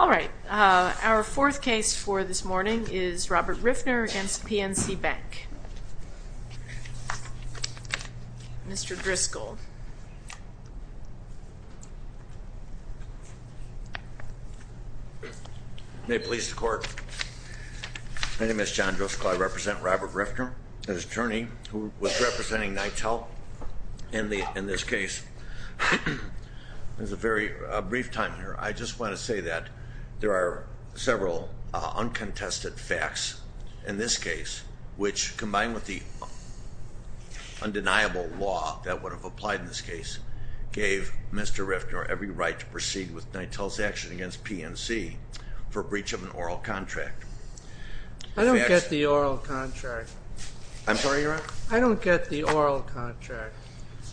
All right, our fourth case for this morning is Robert Riffner v. PNC Bank. Mr. Driscoll. May it please the court. My name is John Driscoll. I represent Robert Riffner, his attorney, who was representing NYTEL in this case. There's a very brief time here. I just want to say that there are several uncontested facts in this case, which combined with the undeniable law that would have applied in this case, gave Mr. Riffner every right to proceed with NYTEL's action against PNC for breach of an oral contract. I don't get the oral contract. I'm sorry, Your Honor? I don't get the oral contract.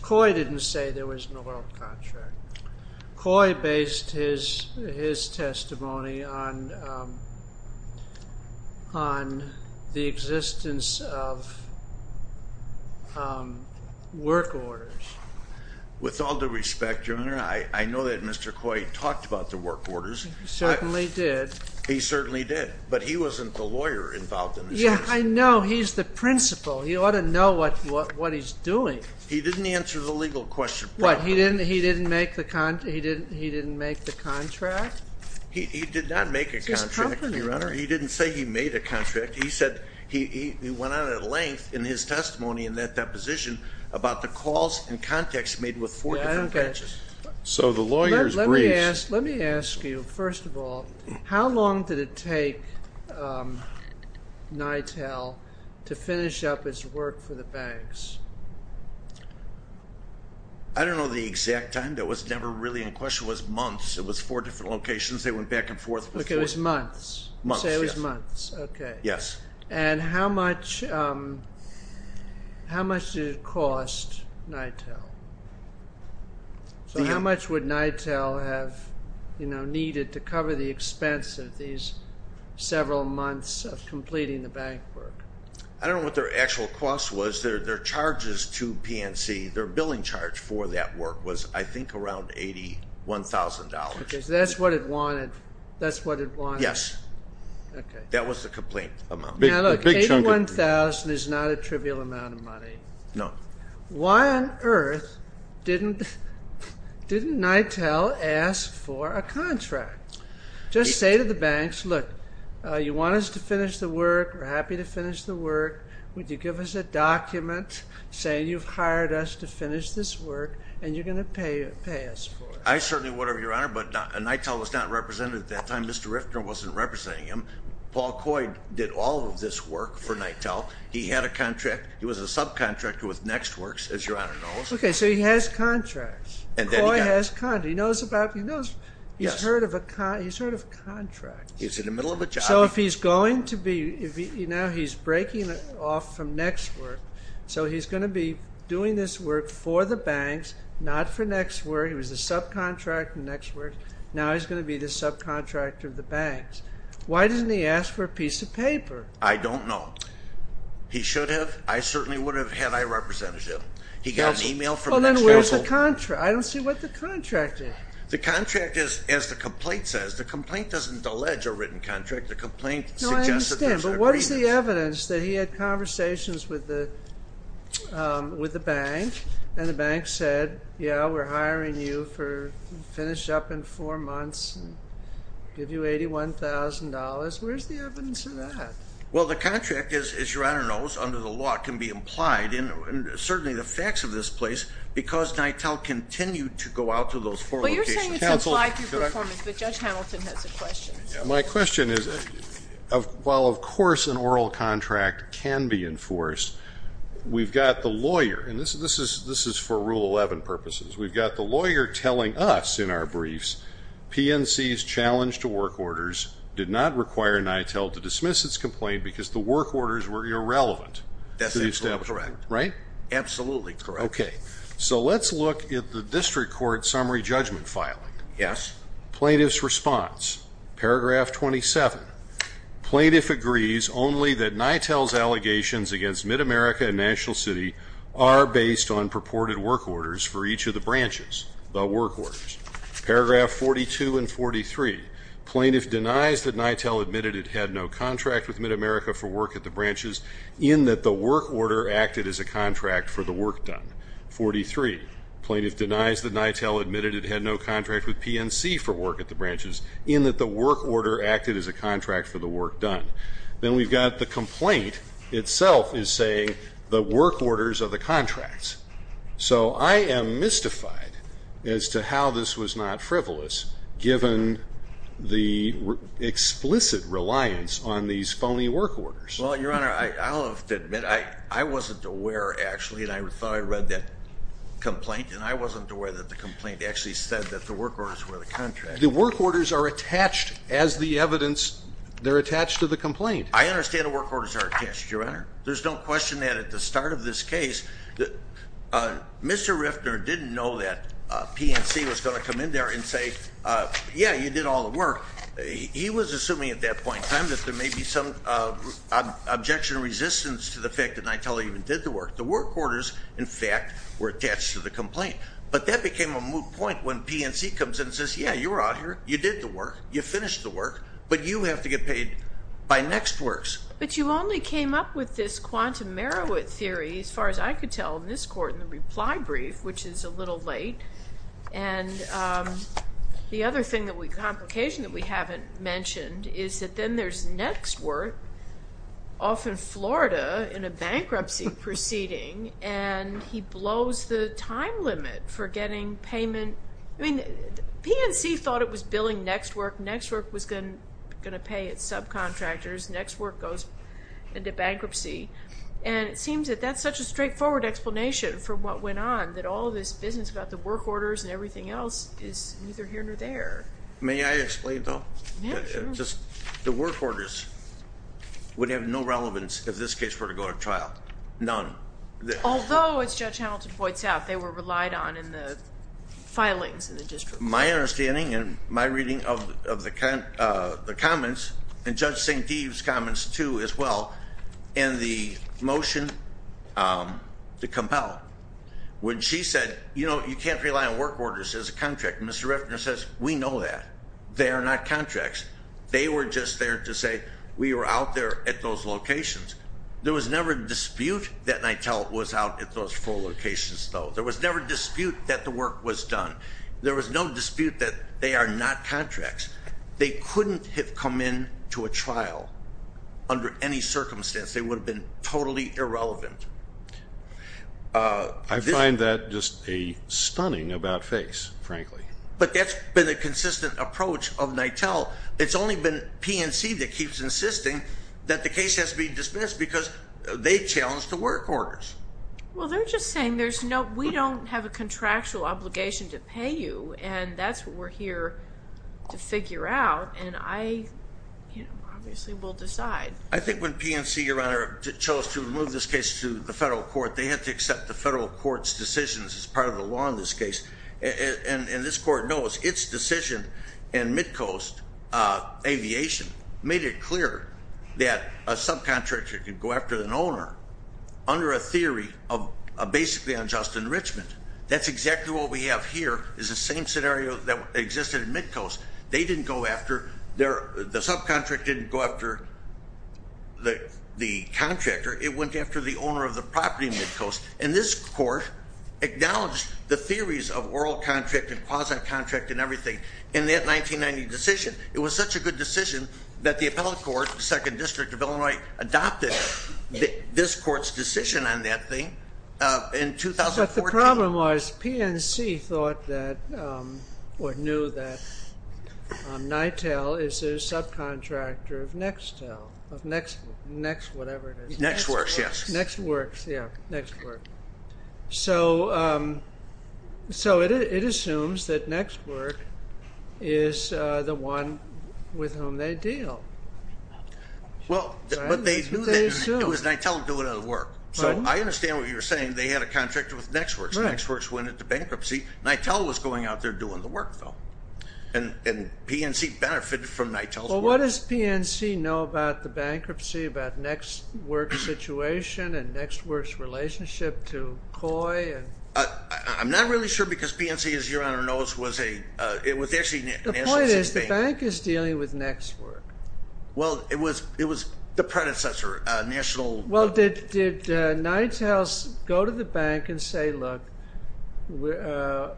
Coy didn't say there was an oral contract. Coy based his testimony on the existence of work orders. With all due respect, Your Honor, I know that Mr. Coy talked about the work orders. He certainly did. He certainly did. But he wasn't the lawyer involved in this case. Yeah, I know. He's the principal. He ought to know what he's doing. He didn't answer the legal question properly. What, he didn't make the contract? He did not make a contract, Your Honor. He didn't say he made a contract. He went on at length in his testimony in that deposition about the calls and contacts made with four different banks. So the lawyer's brief. Let me ask you, first of all, how long did it take NYTEL to finish up its work for the banks? I don't know the exact time. That was never really in question. It was months. It was four different locations. They went back and forth. It was months? Months, yes. Okay. And how much did it cost NYTEL? So how much would NYTEL have needed to cover the expense of these several months of completing the bank work? I don't know what their actual cost was. Their charges to PNC, their billing charge for that work was, I think, around $81,000. Okay, so that's what it wanted. That's what it wanted. Yes. Okay. That was the complaint amount. Now look, $81,000 is not a trivial amount of money. No. Why on earth didn't NYTEL ask for a contract? Just say to the banks, look, you want us to finish the work. We're happy to finish the work. Would you give us a document saying you've hired us to finish this work and you're going to pay us for it? I certainly would, Your Honor, but NYTEL was not represented at that time. Mr. Riftner wasn't representing him. Paul Coy did all of this work for NYTEL. He had a contract. He was a subcontractor with Nextworks, as Your Honor knows. Okay, so he has contracts. Coy has contracts. He knows he's heard of contracts. He's in the middle of a job. So if he's going to be, now he's breaking off from Nextworks, so he's going to be doing this work for the banks, not for Nextworks. He was a subcontractor with Nextworks. Now he's going to be the subcontractor of the banks. Why didn't he ask for a piece of paper? I don't know. He should have. I certainly would have had my representative. He got an email from Nextworks. Well, then where's the contract? I don't see what the contract is. The contract is, as the complaint says, the complaint doesn't allege a written contract. The complaint suggests that there's an agreement. No, I understand, but what is the evidence that he had conversations with the bank and the bank said, yeah, we're hiring you to finish up in four months and give you $81,000? Where's the evidence of that? Well, the contract, as Your Honor knows, under the law, can be implied, and certainly the facts of this place, because NITEL continued to go out to those four locations. But you're saying it's implied through performance, but Judge Hamilton has a question. My question is, while of course an oral contract can be enforced, we've got the lawyer, and this is for Rule 11 purposes, we've got the lawyer telling us in our briefs, PNC's challenge to work orders did not require NITEL to dismiss its complaint because the work orders were irrelevant. That's absolutely correct. Right? Absolutely correct. Okay. So let's look at the district court summary judgment filing. Yes. Plaintiff's response. Paragraph 27. Plaintiff agrees only that NITEL's allegations against MidAmerica and National City are based on purported work orders for each of the branches, the work orders. Paragraph 42 and 43. Plaintiff denies that NITEL admitted it had no contract with MidAmerica for work at the branches in that the work order acted as a contract for the work done. 43. Plaintiff denies that NITEL admitted it had no contract with PNC for work at the branches in that the work order acted as a contract for the work done. Then we've got the complaint itself is saying the work orders are the contracts. So I am mystified as to how this was not frivolous given the explicit reliance on these phony work orders. Well, Your Honor, I'll have to admit I wasn't aware, actually, and I thought I read that complaint, and I wasn't aware that the complaint actually said that the work orders were the contracts. The work orders are attached as the evidence. They're attached to the complaint. I understand the work orders are attached, Your Honor. There's no question that at the start of this case, Mr. Riftner didn't know that PNC was going to come in there and say, yeah, you did all the work. He was assuming at that point in time that there may be some objection or resistance to the fact that NITEL even did the work. The work orders, in fact, were attached to the complaint. But that became a moot point when PNC comes in and says, yeah, you were out here. You did the work. You finished the work. But you have to get paid by next works. But you only came up with this quantum Marowit theory, as far as I could tell, in this court in the reply brief, which is a little late. And the other complication that we haven't mentioned is that then there's next work off in Florida in a bankruptcy proceeding. And he blows the time limit for getting payment. I mean, PNC thought it was billing next work. Next work was going to pay its subcontractors. Next work goes into bankruptcy. And it seems that that's such a straightforward explanation for what went on, that all this business about the work orders and everything else is neither here nor there. May I explain, though? Yeah, sure. The work orders would have no relevance if this case were to go to trial. None. Although, as Judge Hamilton points out, they were relied on in the filings in the district court. My understanding and my reading of the comments, and Judge St. Deve's comments, too, as well, and the motion to compel, when she said, you know, you can't rely on work orders as a contract. Mr. Reffner says, we know that. They are not contracts. They were just there to say we were out there at those locations. There was never a dispute that NITEL was out at those four locations, though. There was never a dispute that the work was done. There was no dispute that they are not contracts. They couldn't have come in to a trial under any circumstance. They would have been totally irrelevant. I find that just a stunning about face, frankly. But that's been a consistent approach of NITEL. It's only been PNC that keeps insisting that the case has to be dismissed because they challenged the work orders. Well, they're just saying we don't have a contractual obligation to pay you, and that's what we're here to figure out. And I obviously will decide. I think when PNC, Your Honor, chose to move this case to the federal court, they had to accept the federal court's decisions as part of the law in this case. And this court knows its decision in Midcoast Aviation made it clear that a subcontractor could go after an owner under a theory of basically unjust enrichment. That's exactly what we have here is the same scenario that existed in Midcoast. They didn't go after their the subcontractor didn't go after the contractor. It went after the owner of the property in Midcoast. And this court acknowledged the theories of oral contract and quasi-contract and everything in that 1990 decision. It was such a good decision that the appellate court, the Second District of Illinois, adopted this court's decision on that thing in 2014. But the problem was PNC thought that or knew that NITEL is a subcontractor of Nextel, of Next whatever it is. Nextworks, yes. Nextworks, yes. Nextworks. So it assumes that Nextworks is the one with whom they deal. Well, but they knew that it was NITEL doing the work. So I understand what you're saying. They had a contract with Nextworks. Nextworks went into bankruptcy. NITEL was going out there doing the work, though. And PNC benefited from NITEL's work. Well, what does PNC know about the bankruptcy, about Nextworks' situation and Nextworks' relationship to COI? I'm not really sure because PNC, as Your Honor knows, was actually a national bank. The point is the bank is dealing with Nextworks. Well, it was the predecessor, national. Well, did NITEL go to the bank and say, look, we're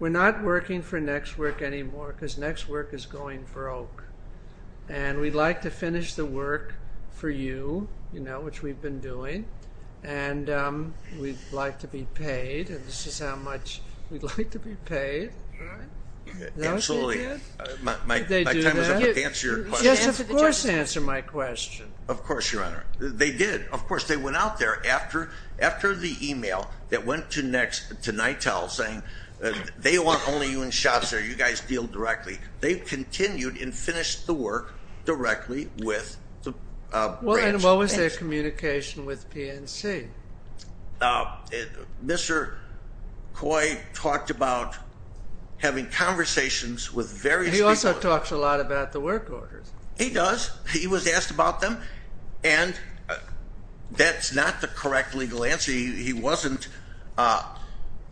not working for Nextworks anymore because Nextworks is going broke. And we'd like to finish the work for you, you know, which we've been doing. And we'd like to be paid. And this is how much we'd like to be paid. Absolutely. My time is up to answer your question. Yes, of course answer my question. Of course, Your Honor. They did. Of course, they went out there after the e-mail that went to NITEL saying they want only you in shops there. You guys deal directly. They continued and finished the work directly with the branch. And what was their communication with PNC? Mr. Coy talked about having conversations with various people. He also talks a lot about the work orders. He does. He was asked about them. And that's not the correct legal answer. He wasn't.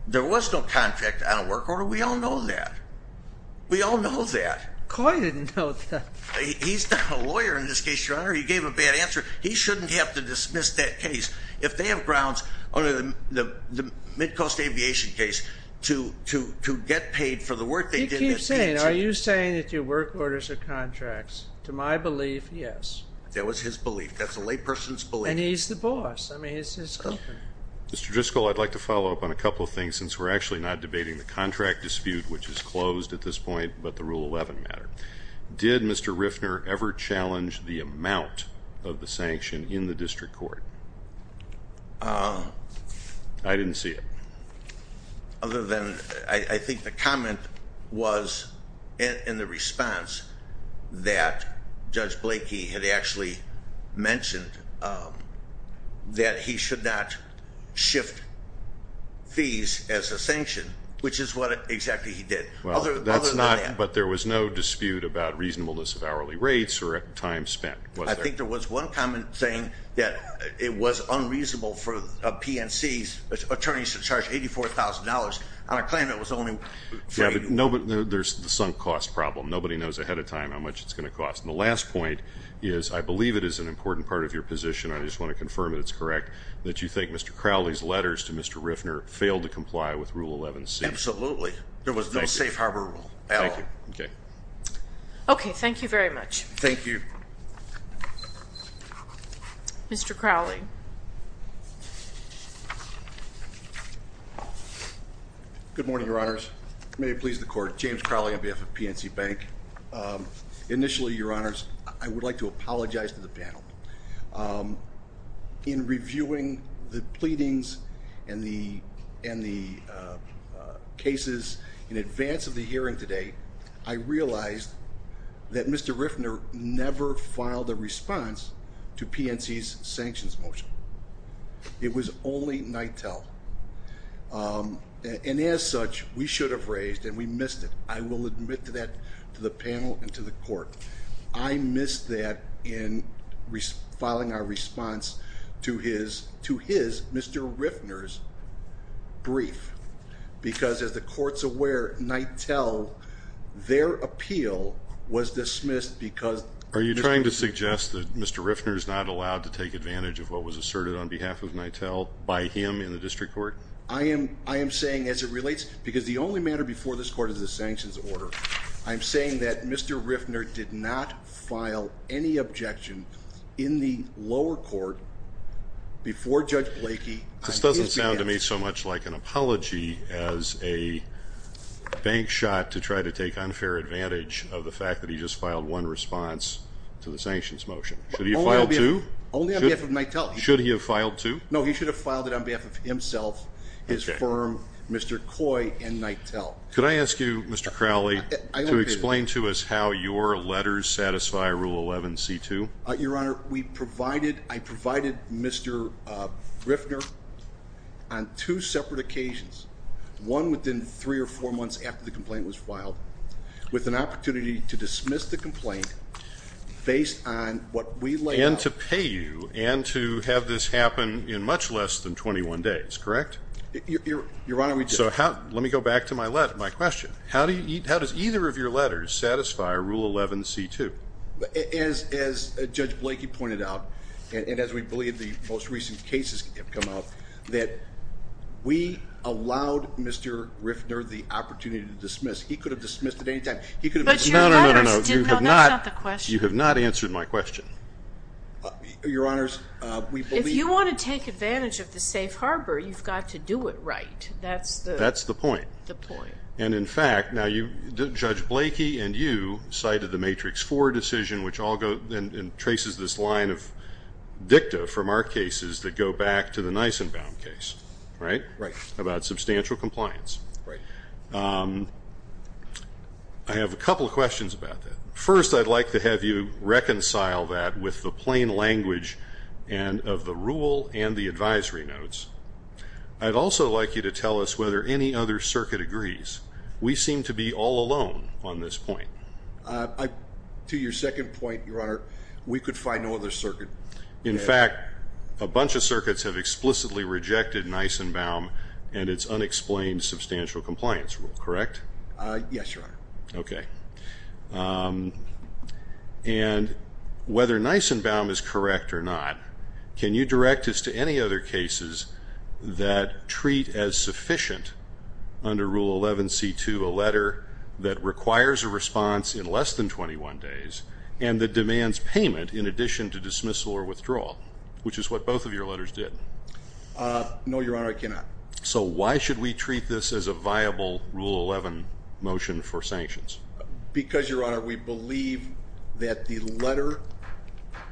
There was no contract on a work order. We all know that. We all know that. Coy didn't know that. He's not a lawyer in this case, Your Honor. He gave a bad answer. He shouldn't have to dismiss that case. If they have grounds under the Midcoast Aviation case to get paid for the work they did. I keep saying, are you saying that your work orders are contracts? To my belief, yes. That was his belief. That's a layperson's belief. And he's the boss. I mean, he's his opponent. Mr. Driscoll, I'd like to follow up on a couple of things since we're actually not debating the contract dispute, which is closed at this point, but the Rule 11 matter. Did Mr. Riffner ever challenge the amount of the sanction in the district court? I didn't see it. Other than I think the comment was in the response that Judge Blakey had actually mentioned that he should not shift fees as a sanction, which is what exactly he did. Other than that. But there was no dispute about reasonableness of hourly rates or time spent. I think there was one comment saying that it was unreasonable for a PNC's attorney to charge $84,000 on a claim that was only free. Yeah, but there's the sunk cost problem. Nobody knows ahead of time how much it's going to cost. And the last point is I believe it is an important part of your position. I just want to confirm that it's correct that you think Mr. Crowley's letters to Mr. Riffner failed to comply with Rule 11C. Absolutely. There was no safe harbor rule at all. Okay. Okay. Thank you very much. Thank you. Mr. Crowley. Good morning, Your Honors. May it please the Court. James Crowley on behalf of PNC Bank. Initially, Your Honors, I would like to apologize to the panel. In reviewing the pleadings and the cases in advance of the hearing today, I realized that Mr. Riffner never filed a response to PNC's sanctions motion. It was only NITEL. And as such, we should have raised and we missed it. I will admit to that to the panel and to the Court. I missed that in filing our response to his, Mr. Riffner's brief. Because as the Court's aware, NITEL, their appeal was dismissed because Are you trying to suggest that Mr. Riffner is not allowed to take advantage of what was asserted on behalf of NITEL by him in the district court? I am saying as it relates, because the only matter before this Court is the sanctions order. I'm saying that Mr. Riffner did not file any objection in the lower court before Judge Blakey. This doesn't sound to me so much like an apology as a bank shot to try to take unfair advantage of the fact that he just filed one response to the sanctions motion. Should he have filed two? Only on behalf of NITEL. Should he have filed two? No, he should have filed it on behalf of himself, his firm, Mr. Coy, and NITEL. Could I ask you, Mr. Crowley, to explain to us how your letters satisfy Rule 11C2? Your Honor, we provided, I provided Mr. Riffner on two separate occasions. One within three or four months after the complaint was filed, with an opportunity to dismiss the complaint based on what we laid out. And to pay you, and to have this happen in much less than 21 days, correct? Your Honor, we did. So let me go back to my question. How does either of your letters satisfy Rule 11C2? As Judge Blakey pointed out, and as we believe the most recent cases have come out, that we allowed Mr. Riffner the opportunity to dismiss. He could have dismissed at any time. No, no, no, no, no. That's not the question. You have not answered my question. Your Honor, we believe. If you want to take advantage of the safe harbor, you've got to do it right. That's the. That's the point. The point. And, in fact, now you, Judge Blakey and you cited the Matrix 4 decision, which all go, and traces this line of dicta from our cases that go back to the Nisenbaum case, right? Right. About substantial compliance. Right. I have a couple of questions about that. First, I'd like to have you reconcile that with the plain language of the rule and the advisory notes. I'd also like you to tell us whether any other circuit agrees. We seem to be all alone on this point. To your second point, Your Honor, we could find no other circuit. In fact, a bunch of circuits have explicitly rejected Nisenbaum and its unexplained substantial compliance rule, correct? Yes, Your Honor. Okay. And whether Nisenbaum is correct or not, can you direct us to any other cases that treat as sufficient under Rule 11C2 a letter that requires a response in less than 21 days and that demands payment in addition to dismissal or withdrawal, which is what both of your letters did? No, Your Honor, I cannot. So why should we treat this as a viable Rule 11 motion for sanctions? Because, Your Honor, we believe that the letter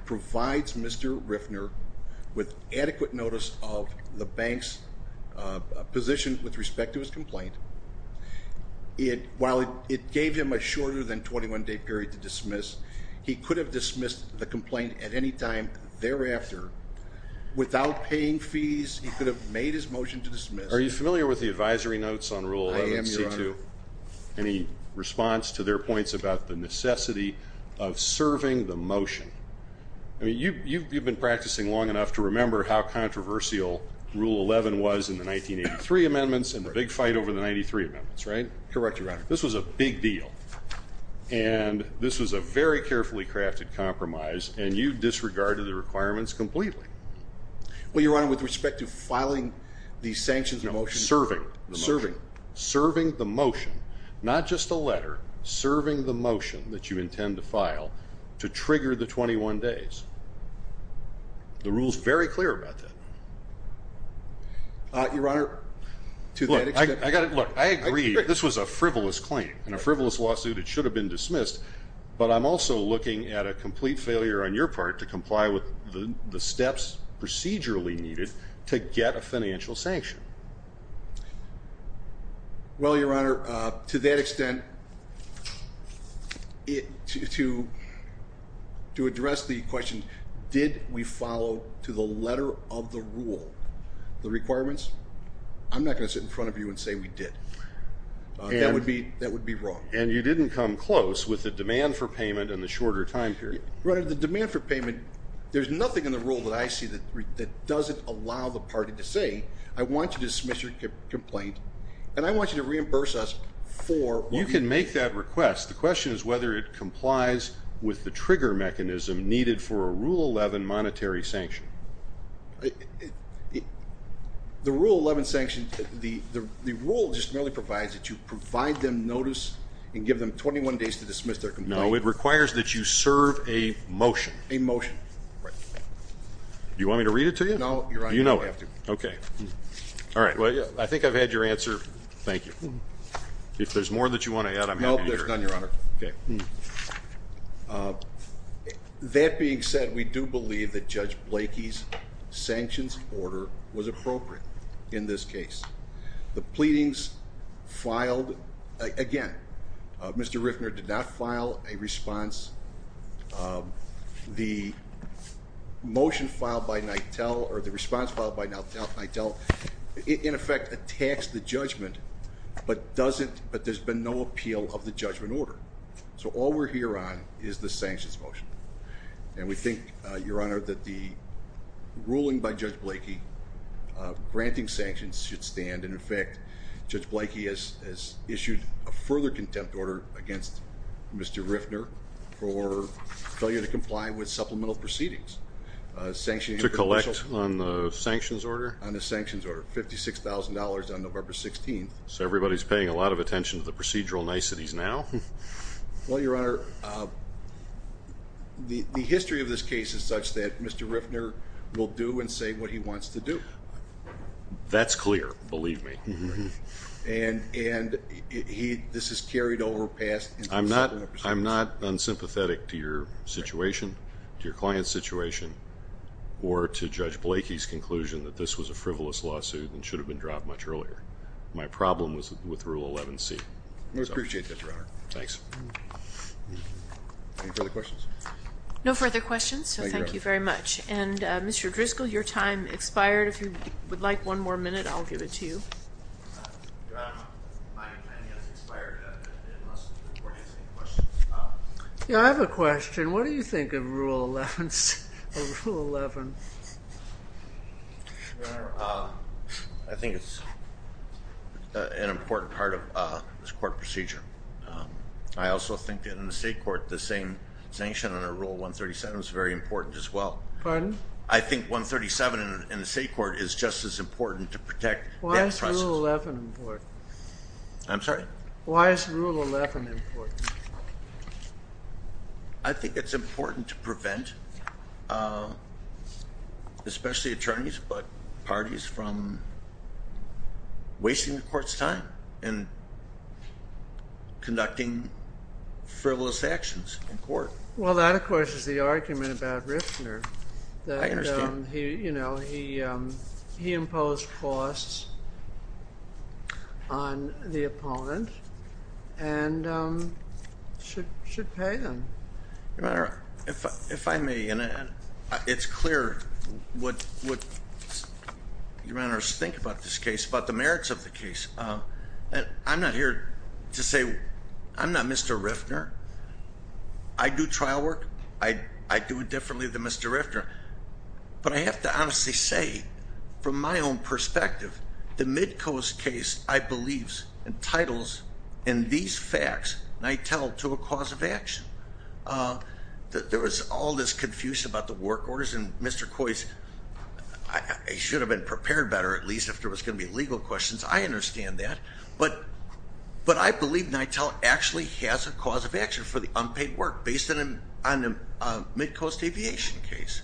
provides Mr. Riffner with adequate notice of the bank's position with respect to his complaint. While it gave him a shorter than 21-day period to dismiss, he could have dismissed the complaint at any time thereafter. Without paying fees, he could have made his motion to dismiss. Are you familiar with the advisory notes on Rule 11C2? I am, Your Honor. Any response to their points about the necessity of serving the motion? I mean, you've been practicing long enough to remember how controversial Rule 11 was in the 1983 amendments and the big fight over the 93 amendments, right? Correct, Your Honor. This was a big deal, and this was a very carefully crafted compromise, and you disregarded the requirements completely. Well, Your Honor, with respect to filing the sanctions motion… No, serving. Serving. Serving the motion, not just a letter, serving the motion that you intend to file to trigger the 21 days. The rule is very clear about that. Your Honor, to that extent… Look, I agree this was a frivolous claim and a frivolous lawsuit. It should have been dismissed, but I'm also looking at a complete failure on your part to comply with the steps procedurally needed to get a financial sanction. Well, Your Honor, to that extent, to address the question, did we follow to the letter of the rule the requirements? I'm not going to sit in front of you and say we did. That would be wrong. And you didn't come close with the demand for payment and the shorter time period. Your Honor, the demand for payment, there's nothing in the rule that I see that doesn't allow the party to say, I want you to dismiss your complaint, and I want you to reimburse us for what we did. You can make that request. The question is whether it complies with the trigger mechanism needed for a Rule 11 monetary sanction. The Rule 11 sanctions, the rule just merely provides that you provide them notice and give them 21 days to dismiss their complaint. No, it requires that you serve a motion. A motion. Right. Do you want me to read it to you? No, Your Honor, you don't have to. Okay. All right, well, I think I've had your answer. Thank you. If there's more that you want to add, I'm happy to hear it. No, there's none, Your Honor. Okay. That being said, we do believe that Judge Blakey's sanctions order was appropriate in this case. The pleadings filed, again, Mr. Riffner did not file a response. The motion filed by Nitell or the response filed by Nitell, in effect, attacks the judgment, but there's been no appeal of the judgment order. So all we're here on is the sanctions motion. And we think, Your Honor, that the ruling by Judge Blakey granting sanctions should stand. And, in fact, Judge Blakey has issued a further contempt order against Mr. Riffner for failure to comply with supplemental proceedings. To collect on the sanctions order? On the sanctions order, $56,000 on November 16th. So everybody's paying a lot of attention to the procedural niceties now? Well, Your Honor, the history of this case is such that Mr. Riffner will do and say what he wants to do. That's clear. Believe me. And this is carried over, passed. I'm not unsympathetic to your situation, to your client's situation, or to Judge Blakey's conclusion that this was a frivolous lawsuit and should have been dropped much earlier. My problem was with Rule 11C. We appreciate that, Your Honor. Thanks. Any further questions? No further questions, so thank you very much. And, Mr. Driscoll, your time expired. If you would like one more minute, I'll give it to you. Your Honor, my time has expired. I didn't want to ask any questions. Yeah, I have a question. What do you think of Rule 11C or Rule 11? Your Honor, I think it's an important part of this court procedure. I also think that in the state court, the same sanction under Rule 137 is very important as well. Pardon? I think 137 in the state court is just as important to protect that process. Why is Rule 11 important? I'm sorry? Why is Rule 11 important? I think it's important to prevent, especially attorneys but parties, from wasting the court's time and conducting frivolous actions in court. Well, that, of course, is the argument about Riffner. I understand. He imposed costs on the opponent and should pay them. Your Honor, if I may, it's clear what your Honor's think about this case, about the merits of the case. I'm not here to say I'm not Mr. Riffner. I do trial work. I do it differently than Mr. Riffner. But I have to honestly say, from my own perspective, the Midcoast case, I believe, entitles in these facts, NITEL, to a cause of action. There was all this confusion about the work orders and Mr. Coy's, he should have been prepared better, at least, if there was going to be legal questions. I understand that. But I believe NITEL actually has a cause of action for the unpaid work, based on a Midcoast Aviation case.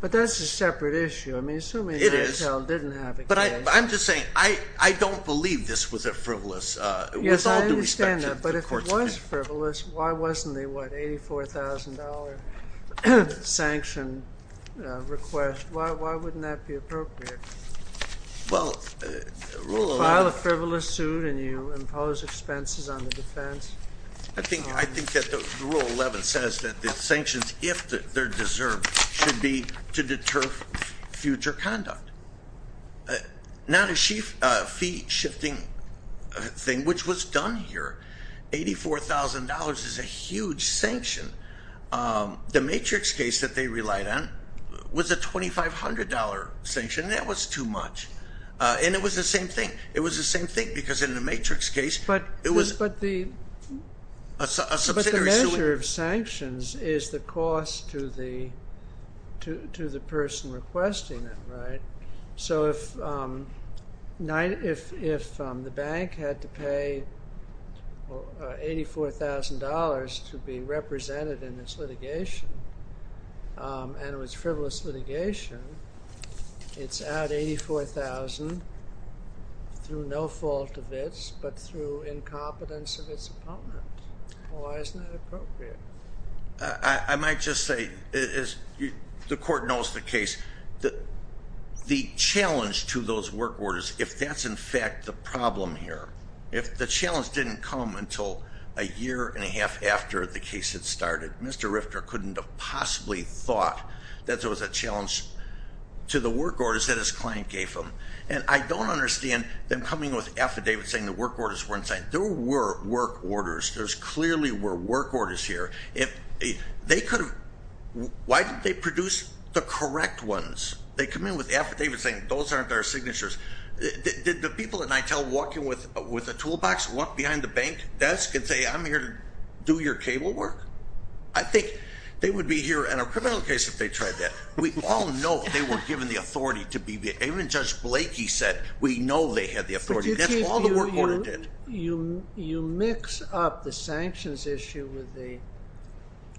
But that's a separate issue. I mean, assuming NITEL didn't have a case. But I'm just saying, I don't believe this was a frivolous, with all due respect to the court's time. Yes, I understand that. But if it was frivolous, why wasn't it a $84,000 sanction request? Why wouldn't that be appropriate? Well, Rule 11- File a frivolous suit and you impose expenses on the defense. I think that Rule 11 says that the sanctions, if they're deserved, should be to deter future conduct. Not a fee shifting thing, which was done here. $84,000 is a huge sanction. The Matrix case that they relied on was a $2,500 sanction. That was too much. And it was the same thing. It was the same thing, because in the Matrix case, it was a subsidiary. But the measure of sanctions is the cost to the person requesting it, right? So if the bank had to pay $84,000 to be represented in this litigation, and it was frivolous litigation, it's at $84,000 through no fault of its, but through incompetence of its opponent. Why isn't that appropriate? I might just say, the court knows the case. The challenge to those work orders, if that's in fact the problem here. If the challenge didn't come until a year and a half after the case had started, Mr. Rifter couldn't have possibly thought that there was a challenge to the work orders that his client gave him. And I don't understand them coming with affidavits saying the work orders weren't signed. There were work orders. There clearly were work orders here. Why didn't they produce the correct ones? They come in with affidavits saying, those aren't our signatures. Did the people at NITEL walk in with a toolbox, walk behind the bank desk and say, I'm here to do your cable work? I think they would be here in a criminal case if they tried that. We all know they were given the authority to be there. Even Judge Blakey said, we know they had the authority. That's all the work order did. You mix up the sanctions issue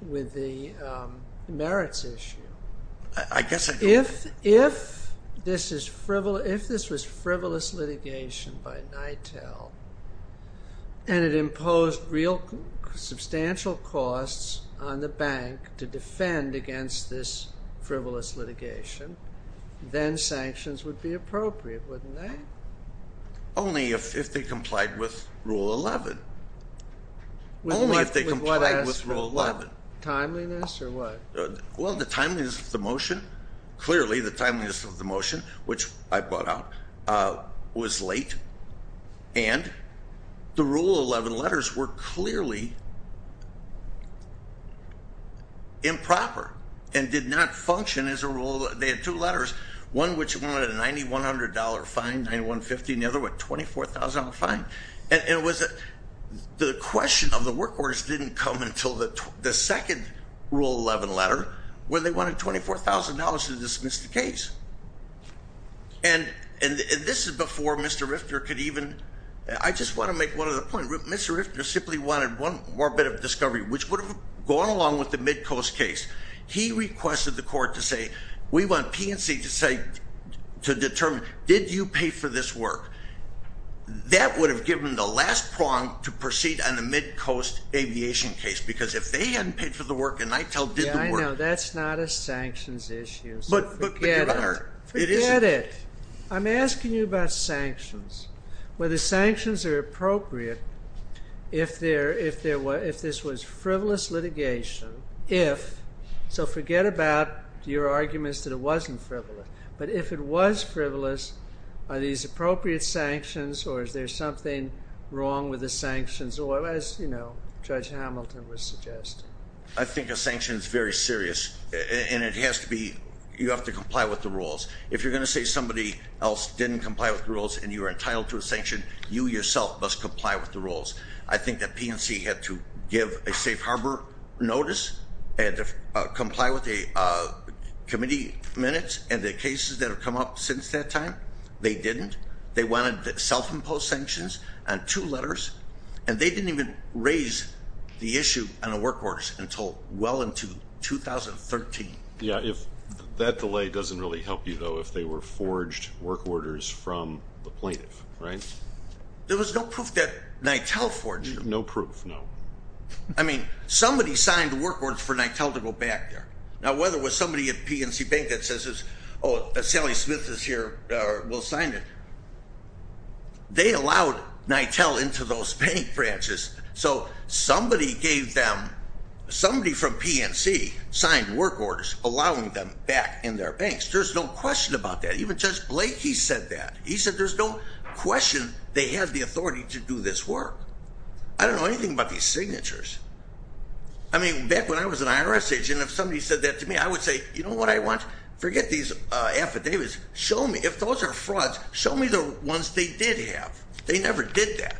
with the merits issue. I guess I do. If this was frivolous litigation by NITEL and it imposed real substantial costs on the bank to defend against this frivolous litigation, then sanctions would be appropriate, wouldn't they? Only if they complied with Rule 11. Only if they complied with Rule 11. With what? Timeliness or what? Well, the timeliness of the motion, clearly the timeliness of the motion, which I brought out, was late. And the Rule 11 letters were clearly improper and did not function as a rule. They had two letters, one which wanted a $9,100 fine, $9,150, and the other one $24,000 fine. And the question of the work orders didn't come until the second Rule 11 letter when they wanted $24,000 to dismiss the case. And this is before Mr. Rifter could even, I just want to make one other point. Mr. Rifter simply wanted one more bit of discovery, which would have gone along with the Midcoast case. He requested the court to say, we want P&C to say, to determine, did you pay for this work? That would have given the last prong to proceed on the Midcoast aviation case, because if they hadn't paid for the work and NITEL did the work. Yeah, I know, that's not a sanctions issue. But, but, but your Honor, it is. Forget it. I'm asking you about sanctions. Well, the sanctions are appropriate if there, if there were, if this was frivolous litigation, if, so forget about your arguments that it wasn't frivolous. But if it was frivolous, are these appropriate sanctions, or is there something wrong with the sanctions? Or as, you know, Judge Hamilton was suggesting. I think a sanction is very serious. And it has to be, you have to comply with the rules. If you're going to say somebody else didn't comply with the rules and you are entitled to a sanction, you yourself must comply with the rules. I think that P&C had to give a safe harbor notice and comply with the committee minutes and the cases that have come up since that time. They didn't. They wanted self-imposed sanctions on two letters. And they didn't even raise the issue on the work orders until well into 2013. Yeah, if that delay doesn't really help you, though, if they were forged work orders from the plaintiff, right? There was no proof that NITEL forged them. No proof, no. I mean, somebody signed work orders for NITEL to go back there. Now, whether it was somebody at P&C Bank that says, oh, Sally Smith is here, we'll sign it. They allowed NITEL into those bank branches. So somebody gave them, somebody from P&C signed work orders allowing them back in their banks. There's no question about that. Even Judge Blake, he said that. He said there's no question they have the authority to do this work. I don't know anything about these signatures. I mean, back when I was an IRS agent, if somebody said that to me, I would say, you know what I want? Forget these affidavits. Show me, if those are frauds, show me the ones they did have. They never did that.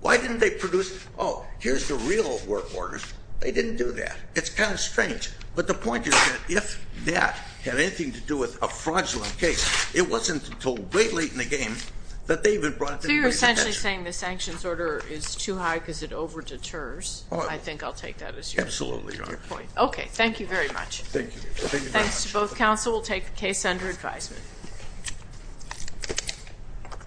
Why didn't they produce, oh, here's the real work orders? They didn't do that. It's kind of strange. But the point is that if that had anything to do with a fraudulent case, it wasn't until way late in the game that they even brought it to the Supreme Court. So you're essentially saying the sanctions order is too high because it over-deters. I think I'll take that as your point. Absolutely, Your Honor. Okay, thank you very much. Thank you. Thank you very much. Thanks to both counsel. We'll take the case under advisement.